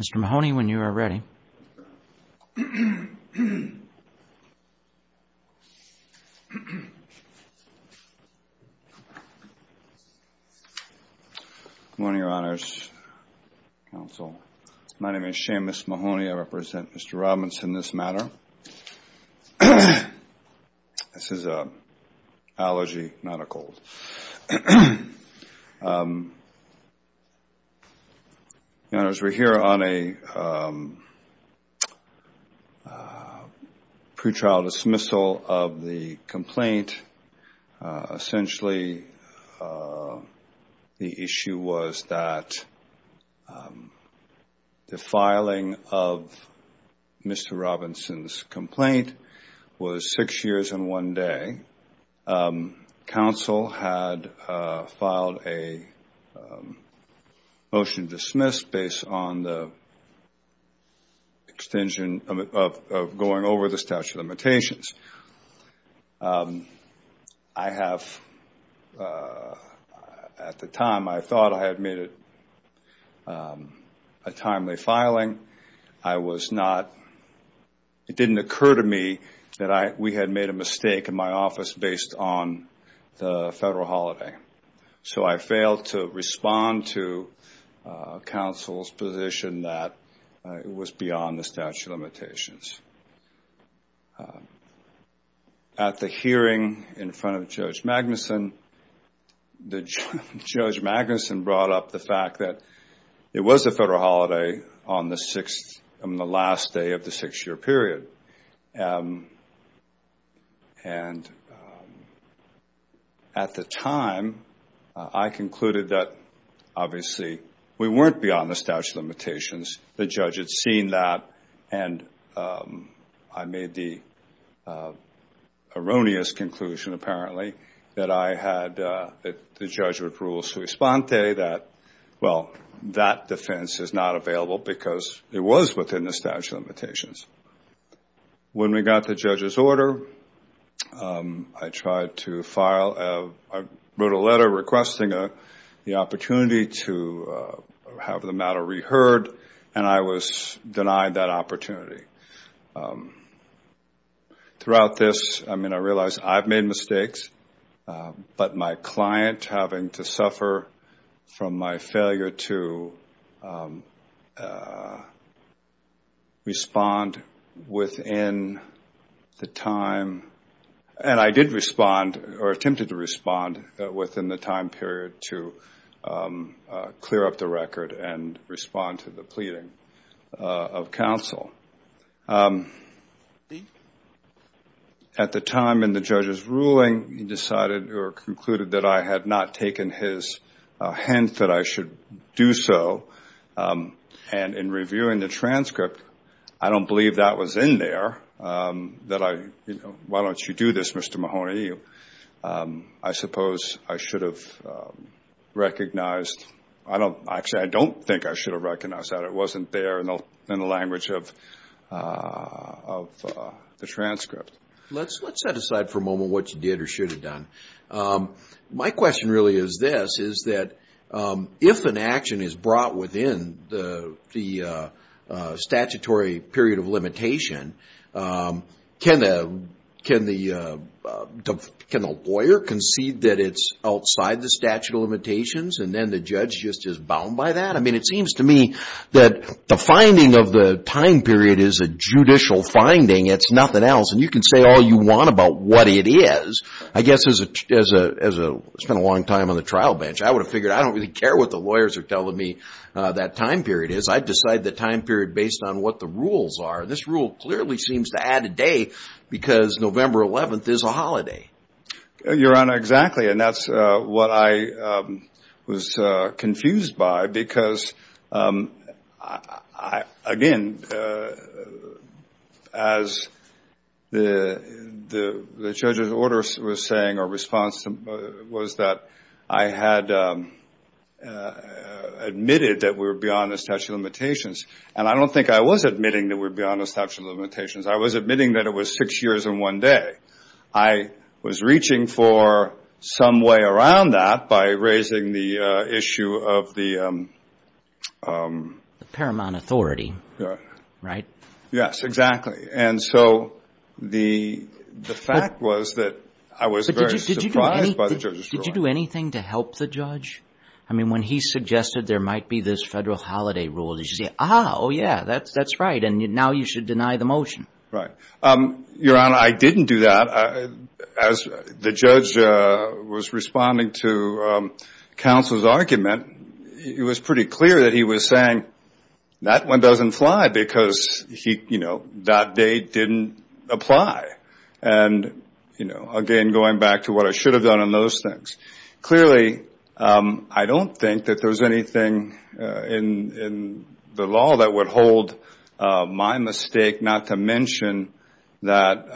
Mr. Mahoney, when you are ready. Good morning, Your Honors. Counsel. My name is Seamus Mahoney. I represent Mr. Robinson in this matter. This is an allergy, not a cold. Your Honors, we are here on a pretrial dismissal of the complaint. Essentially, the issue was that the filing of Mr. Robinson's complaint was six years and one day. Counsel had filed a motion to dismiss based on the extension of going over the statute of limitations. At the time, I thought I had made a timely filing. It didn't occur to me that we had made a mistake in my office based on the federal holiday. So I failed to respond to counsel's position that it was beyond the statute of limitations. At the hearing in front of Judge Magnuson, Judge Magnuson brought up the fact that it was a federal holiday on the last day of the six-year period. At the time, I concluded that, obviously, we weren't beyond the statute of limitations. The judge had seen that, and I made the erroneous conclusion, apparently, that the judge would rule sui sponte that, well, that defense is not available because it was within the statute of limitations. When we got the judge's order, I wrote a letter requesting the opportunity to have the matter reheard. And I was denied that opportunity. Throughout this, I realized I've made mistakes, but my client having to suffer from my failure to respond within the time. And I did respond or attempted to respond within the time period to clear up the record and respond to the pleading of counsel. At the time in the judge's ruling, he decided or concluded that I had not taken his hint that I should do so. And in reviewing the transcript, I don't believe that was in there, that I, you know, why don't you do this, Mr. Mahoney? I suppose I should have recognized, actually, I don't think I should have recognized that. It wasn't there in the language of the transcript. Let's set aside for a moment what you did or should have done. My question really is this, is that if an action is brought within the statutory period of limitation, can the lawyer concede that it's outside the statute of limitations and then the judge just is bound by that? I mean, it seems to me that the finding of the time period is a judicial finding. It's nothing else, and you can say all you want about what it is. I guess as I spent a long time on the trial bench, I would have figured I don't really care what the lawyers are telling me that time period is. I decide the time period based on what the rules are. This rule clearly seems to add a day because November 11th is a holiday. Your Honor, exactly, and that's what I was confused by because, again, as the judge's order was saying or response was that I had admitted that we were beyond the statute of limitations, and I don't think I was admitting that we were beyond the statute of limitations. I was admitting that it was six years and one day. I was reaching for some way around that by raising the issue of the... Paramount authority, right? Yes, exactly, and so the fact was that I was very surprised by the judge's ruling. Did you do anything to help the judge? I mean, when he suggested there might be this federal holiday rule, did you say, ah, oh, yeah, that's right, and now you should deny the motion? Right. Your Honor, I didn't do that. As the judge was responding to counsel's argument, it was pretty clear that he was saying that one doesn't fly because that date didn't apply. Again, going back to what I should have done on those things, clearly, I don't think that there's anything in the law that would hold my mistake, not to mention that,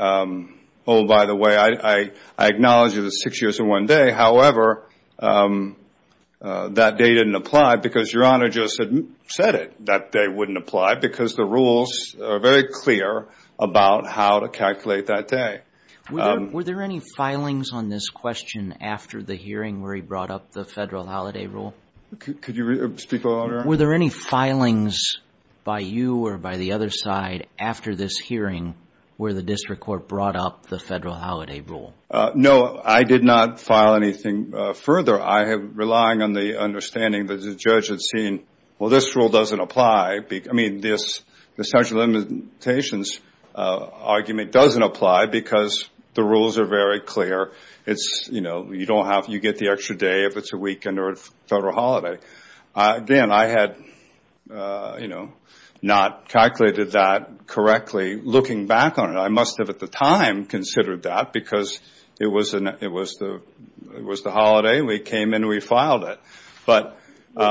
oh, by the way, I acknowledge it was six years and one day. However, that date didn't apply because Your Honor just said it, that date wouldn't apply because the rules are very clear about how to calculate that date. Were there any filings on this question after the hearing where he brought up the federal holiday rule? Could you speak, Your Honor? Were there any filings by you or by the other side after this hearing where the district court brought up the federal holiday rule? No, I did not file anything further. I am relying on the understanding that the judge had seen, well, this rule doesn't apply. I mean, the statute of limitations argument doesn't apply because the rules are very clear. You get the extra day if it's a weekend or a federal holiday. Again, I had not calculated that correctly. Looking back on it, I must have at the time considered that because it was the holiday. We came and we filed it. Well,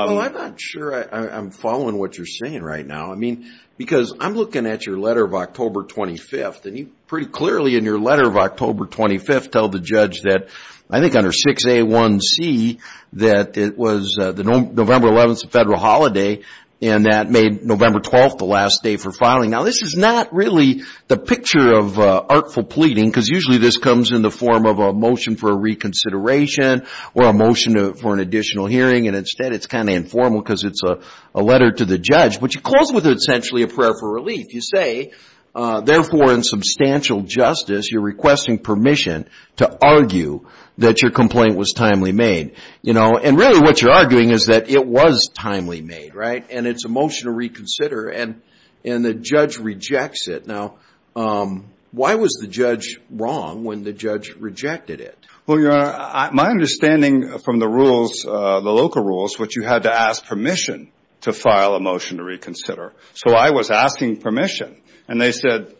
I'm not sure I'm following what you're saying right now. I mean, because I'm looking at your letter of October 25th, and you pretty clearly in your letter of October 25th tell the judge that, I think under 6A1C, that it was the November 11th is a federal holiday, and that made November 12th the last day for filing. Now, this is not really the picture of artful pleading because usually this comes in the form of a motion for a reconsideration or a motion for an additional hearing, and instead it's kind of informal because it's a letter to the judge. But you close with essentially a prayer for relief. You say, therefore, in substantial justice, you're requesting permission to argue that your complaint was timely made. And really what you're arguing is that it was timely made, and it's a motion to reconsider, and the judge rejects it. Now, why was the judge wrong when the judge rejected it? Well, Your Honor, my understanding from the local rules was you had to ask permission to file a motion to reconsider. So I was asking permission, and he said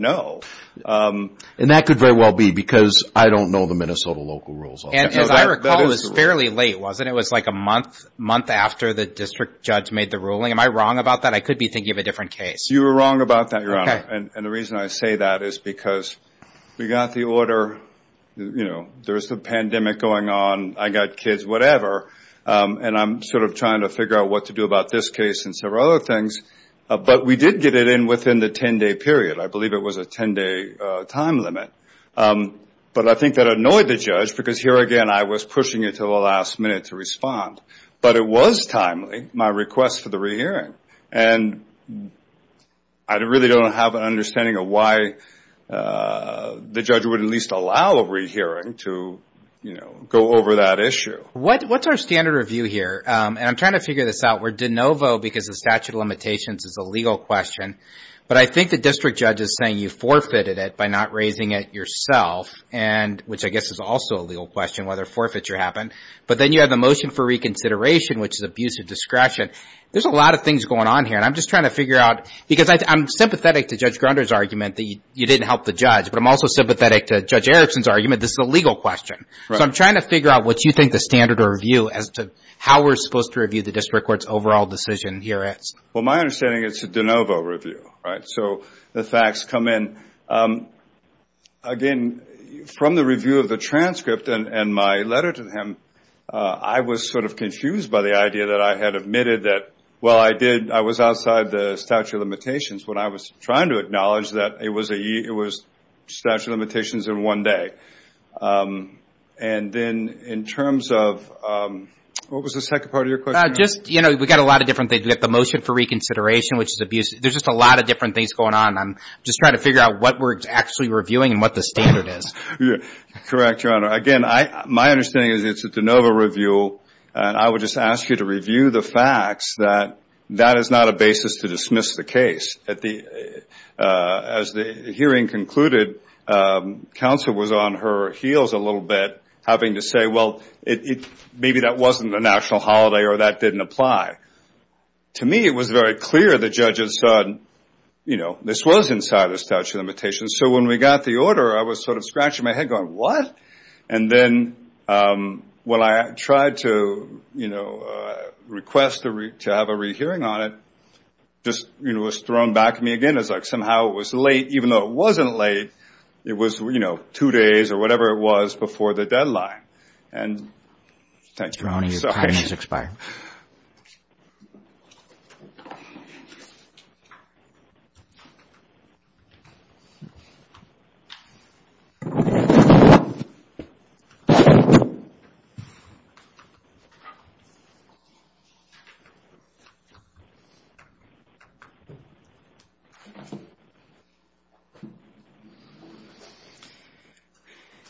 no. And that could very well be because I don't know the Minnesota local rules. And as I recall, it was fairly late, wasn't it? It was like a month after the district judge made the ruling. Am I wrong about that? I could be thinking of a different case. You were wrong about that, Your Honor, and the reason I say that is because we got the order, you know, there's a pandemic going on, I got kids, whatever, and I'm sort of trying to figure out what to do about this case and several other things. But we did get it in within the 10-day period. I believe it was a 10-day time limit. But I think that annoyed the judge because, here again, I was pushing it to the last minute to respond. But it was timely, my request for the rehearing, and I really don't have an understanding of why the judge would at least allow a rehearing to, you know, go over that issue. So what's our standard review here? And I'm trying to figure this out. We're de novo because the statute of limitations is a legal question. But I think the district judge is saying you forfeited it by not raising it yourself, which I guess is also a legal question, whether forfeiture happened. But then you have the motion for reconsideration, which is abuse of discretion. There's a lot of things going on here, and I'm just trying to figure out, because I'm sympathetic to Judge Grunder's argument that you didn't help the judge. But I'm also sympathetic to Judge Erickson's argument this is a legal question. So I'm trying to figure out what you think the standard of review as to how we're supposed to review the district court's overall decision here is. Well, my understanding is it's a de novo review, right? So the facts come in. Again, from the review of the transcript and my letter to him, I was sort of confused by the idea that I had admitted that, well, I did. But that was outside the statute of limitations when I was trying to acknowledge that it was statute of limitations in one day. And then in terms of what was the second part of your question? Just, you know, we've got a lot of different things. We've got the motion for reconsideration, which is abuse. There's just a lot of different things going on, and I'm just trying to figure out what we're actually reviewing and what the standard is. Correct, Your Honor. Again, my understanding is it's a de novo review, and I would just ask you to review the facts that that is not a basis to dismiss the case. As the hearing concluded, counsel was on her heels a little bit, having to say, well, maybe that wasn't a national holiday or that didn't apply. To me, it was very clear the judge had said, you know, this was inside the statute of limitations. And so when we got the order, I was sort of scratching my head going, what? And then when I tried to, you know, request to have a rehearing on it, just, you know, it was thrown back at me again. It was like somehow it was late, even though it wasn't late. It was, you know, two days or whatever it was before the deadline.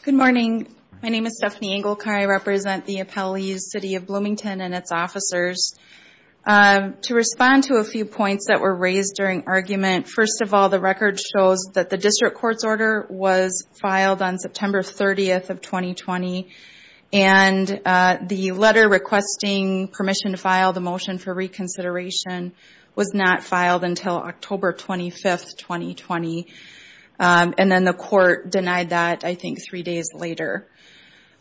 Good morning. My name is Stephanie Engelke. I represent the appellees, City of Bloomington and its officers. To respond to a few points that were raised during argument, first of all, the record shows that the district court's order was filed on September 30th of 2020. And the letter requesting permission to file the motion for reconsideration was not filed until October 25th, 2020. And then the court denied that, I think, three days later.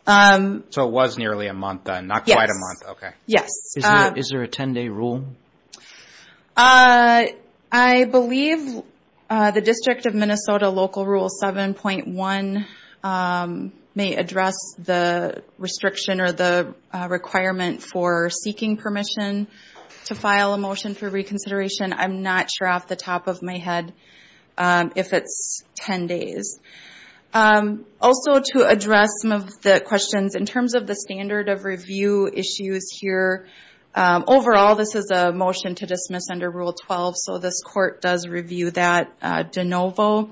So it was nearly a month then, not quite a month. Yes. Is there a 10-day rule? I believe the District of Minnesota Local Rule 7.1 may address the restriction or the requirement for seeking permission to file a motion for reconsideration. I'm not sure off the top of my head if it's 10 days. Also, to address some of the questions, in terms of the standard of review issues here, overall, this is a motion to dismiss under Rule 12. So this court does review that de novo.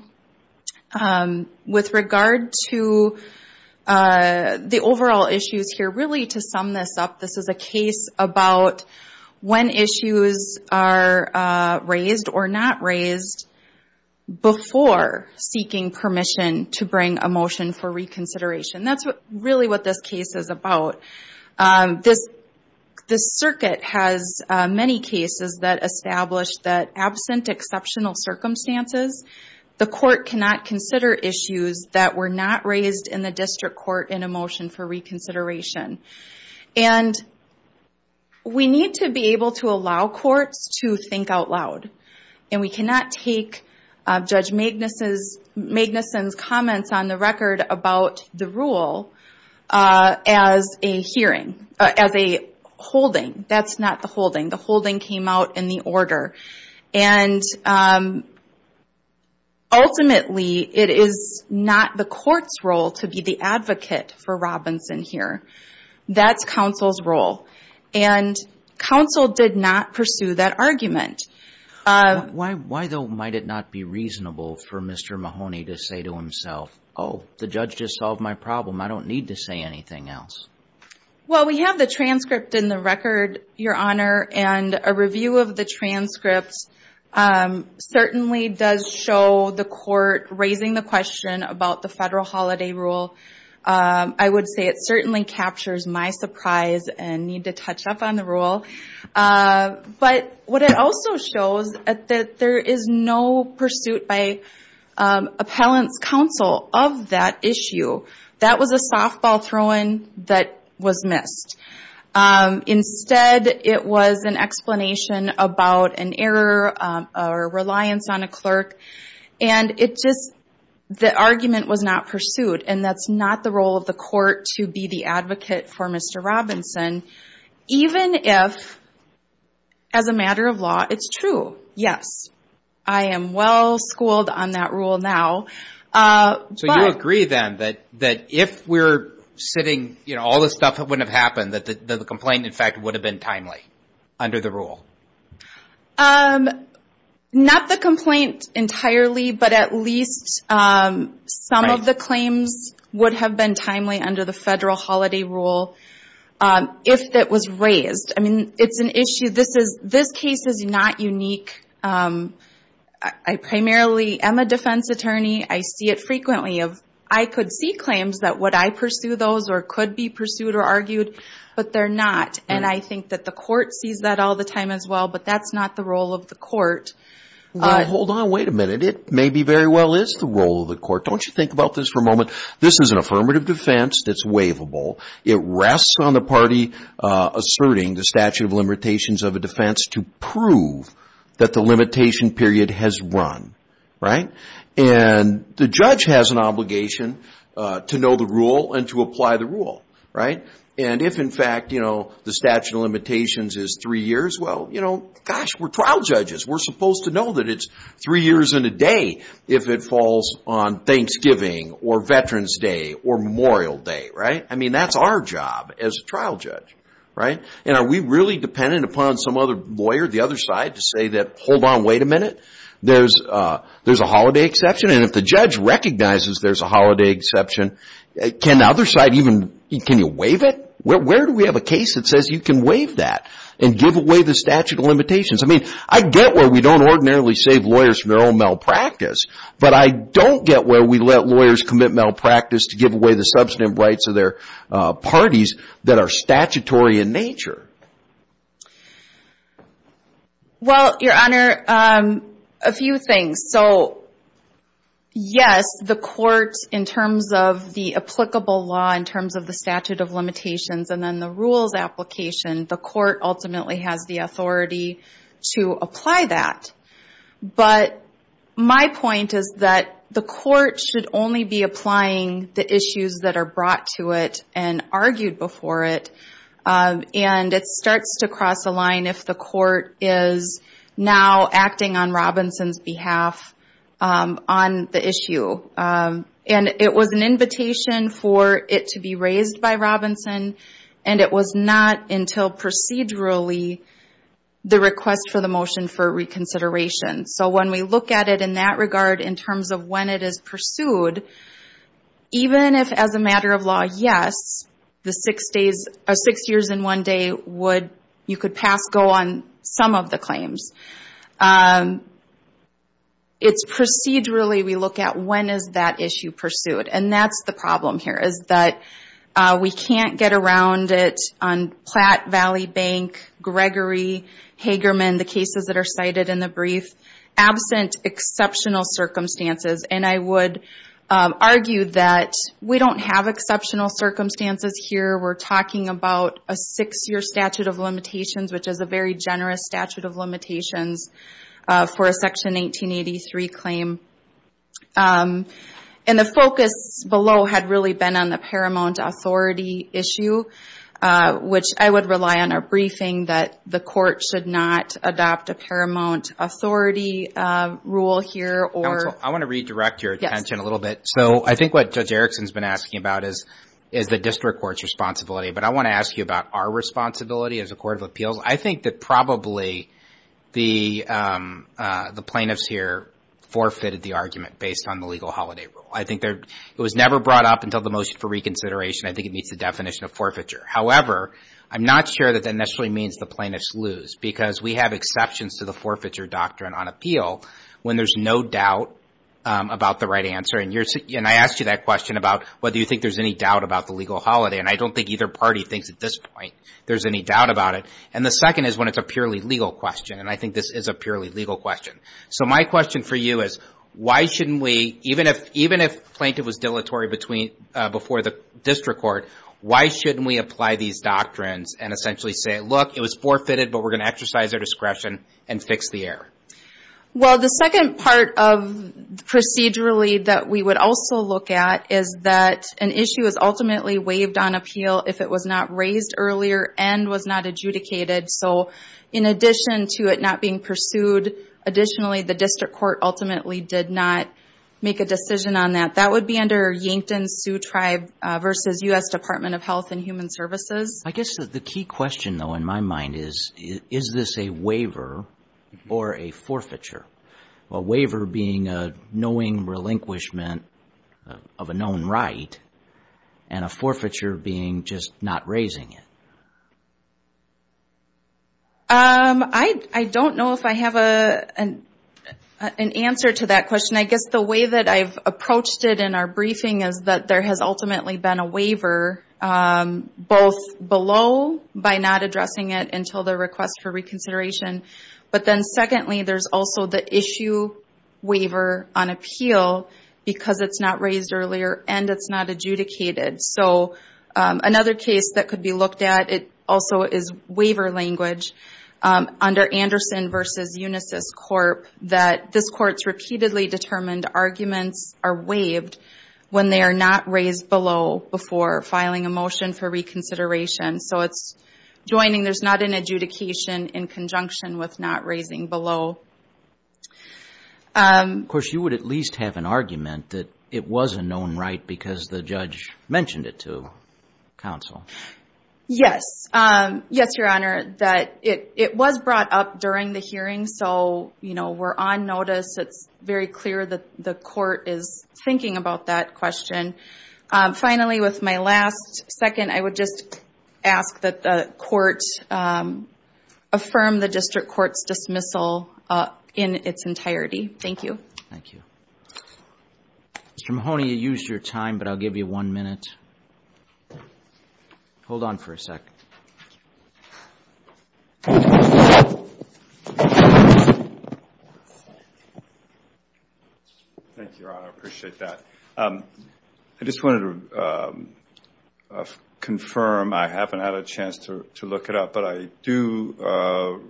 With regard to the overall issues here, really to sum this up, this is a case about when issues are raised or not raised before seeking permission. To bring a motion for reconsideration. That's really what this case is about. This circuit has many cases that establish that absent exceptional circumstances, the court cannot consider issues that were not raised in the district court in a motion for reconsideration. And we need to be able to allow courts to think out loud. And we cannot take Judge Magnuson's comments on the record about the rule as a holding. That's not the holding. The holding came out in the order. And ultimately, it is not the court's role to be the advocate for Robinson here. That's counsel's role. And counsel did not pursue that argument. Why, though, might it not be reasonable for Mr. Mahoney to say to himself, oh, the judge just solved my problem, I don't need to say anything else? Well, we have the transcript in the record, Your Honor, and a review of the transcript certainly does show the court raising the question about the federal holiday rule. I would say it certainly captures my surprise and need to touch up on the rule. But what it also shows is that there is no pursuit by appellant's counsel of that issue. That was a softball throw in that was missed. Instead, it was an explanation about an error or reliance on a clerk. And it just, the argument was not pursued. And that's not the role of the court to be the advocate for Mr. Robinson, even if, as a matter of law, it's true. Yes, I am well schooled on that rule now. So you agree, then, that if we're sitting, you know, all this stuff wouldn't have happened, that the complaint, in fact, would have been timely under the rule? Not the complaint entirely, but at least some of the claims would have been timely under the federal holiday rule, if it was raised. I mean, it's an issue. This case is not unique. I primarily am a defense attorney. I see it frequently. I could see claims that would I pursue those or could be pursued or argued, but they're not. And I think that the court sees that all the time as well, but that's not the role of the court. Well, hold on, wait a minute. It maybe very well is the role of the court. Don't you think about this for a moment? This is an affirmative defense that's waivable. It rests on the party asserting the statute of limitations of a defense to prove that the limitation period has run. And the judge has an obligation to know the rule and to apply the rule. And if, in fact, the statute of limitations is three years, well, gosh, we're trial judges. We're supposed to know that it's three years and a day if it falls on Thanksgiving or Veterans Day or Memorial Day. I mean, that's our job as a trial judge. And are we really dependent upon some other lawyer, the other side, to say that, hold on, wait a minute, there's a holiday exception? And if the judge recognizes there's a holiday exception, can the other side even, can you waive it? Where do we have a case that says you can waive that and give away the statute of limitations? I mean, I get where we don't ordinarily save lawyers from their own malpractice, but I don't get where we let lawyers commit malpractice to give away the statutory in nature. Well, Your Honor, a few things. So, yes, the court, in terms of the applicable law, in terms of the statute of limitations, and then the rules application, the court ultimately has the authority to apply that. But my point is that the court should only be applying the issues that are brought to it and argued before it. And it starts to cross a line if the court is now acting on Robinson's behalf on the issue. And it was an invitation for it to be raised by Robinson, and it was not until procedurally the request for the motion for reconsideration. So when we look at it in that regard, in terms of when it is pursued, even if, as a matter of law, yes, the six days associated with six years in one day, you could pass go on some of the claims. It's procedurally we look at when is that issue pursued. And that's the problem here, is that we can't get around it on Platt Valley Bank, Gregory, Hagerman, the cases that are cited in the brief, absent exceptional circumstances. And I would argue that we don't have exceptional circumstances here. We're talking about a six-year statute of limitations, which is a very generous statute of limitations for a Section 1883 claim. And the focus below had really been on the paramount authority issue, which I would rely on a briefing that the court should not adopt a paramount authority rule here. I want to redirect your attention a little bit. So I think what Judge Erickson has been asking about is the district court's responsibility. But I want to ask you about our responsibility as a court of appeals. I think that probably the plaintiffs here forfeited the argument based on the legal holiday rule. I think it was never brought up until the motion for reconsideration. I think it meets the definition of forfeiture. However, I'm not sure that that necessarily means the plaintiffs lose, because we have exceptions to the forfeiture doctrine on appeal when there's no doubt about the right answer. And I asked you that question about whether you think there's any doubt about the legal holiday. And I don't think either party thinks at this point there's any doubt about it. And the second is when it's a purely legal question. And I think this is a purely legal question. So my question for you is, why shouldn't we, even if plaintiff was dilatory before the district court, why shouldn't we apply the legal holiday? Why shouldn't we apply these doctrines and essentially say, look, it was forfeited, but we're going to exercise our discretion and fix the error? Well, the second part of procedurally that we would also look at is that an issue is ultimately waived on appeal if it was not raised earlier and was not adjudicated. So in addition to it not being pursued, additionally, the district court ultimately did not make a decision on that. That would be under Yankton Sioux Tribe versus U.S. Department of Health and Human Services. I guess the key question, though, in my mind is, is this a waiver or a forfeiture? A waiver being a knowing relinquishment of a known right and a forfeiture being just not raising it. I don't know if I have an answer to that question. I guess the way that I've approached it in our briefing is that there has ultimately been a waiver, both below by not addressing it until the request for reconsideration, but then secondly, there's also the issue waiver on appeal because it's not raised earlier and it's not adjudicated. So another case that could be looked at also is waiver language under Anderson versus Unisys Corp. That this court's repeatedly determined arguments are waived when they are not raised below before filing a motion for reconsideration. So it's joining there's not an adjudication in conjunction with not raising below. Of course, you would at least have an argument that it was a known right because the judge mentioned it to counsel. Yes. Yes, Your Honor, that it was brought up during the hearing. So, you know, we're on notice. It's very clear that the court is thinking about that question. Finally, with my last second, I would just ask that the court affirm the district court's dismissal. In its entirety. Thank you. Thank you. Mr. Mahoney, you used your time, but I'll give you one minute. Hold on for a second. Thank you, Your Honor. I appreciate that. I just wanted to confirm I haven't had a chance to look it up, but I do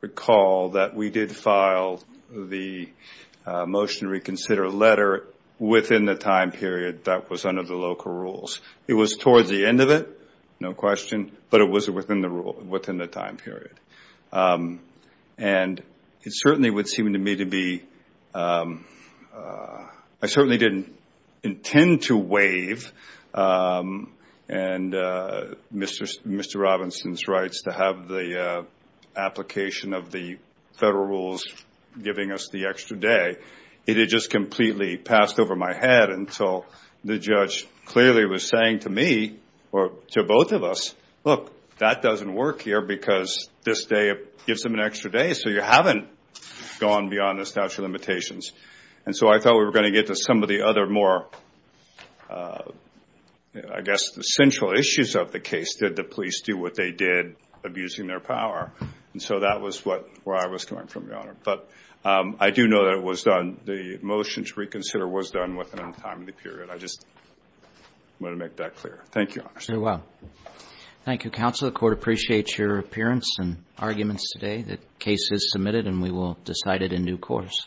recall that we did file a motion to reconsider letter within the time period that was under the local rules. It was towards the end of it. No question. But it was within the rule within the time period. And it certainly would seem to me to be. I certainly didn't intend to waive and Mr. Robinson's rights to have the application of the federal rules. And so I thought we were going to get to some of the other more. I guess the central issues of the case that the police do what they did abusing their power. And so that was what I was coming from. Your Honor. But I do know that it was done. The motion to reconsider was done within the time of the period. I just want to make that clear. Thank you, Your Honor. Very well. Thank you, counsel. The court appreciates your appearance and arguments today that case is submitted and we will decide it in due course.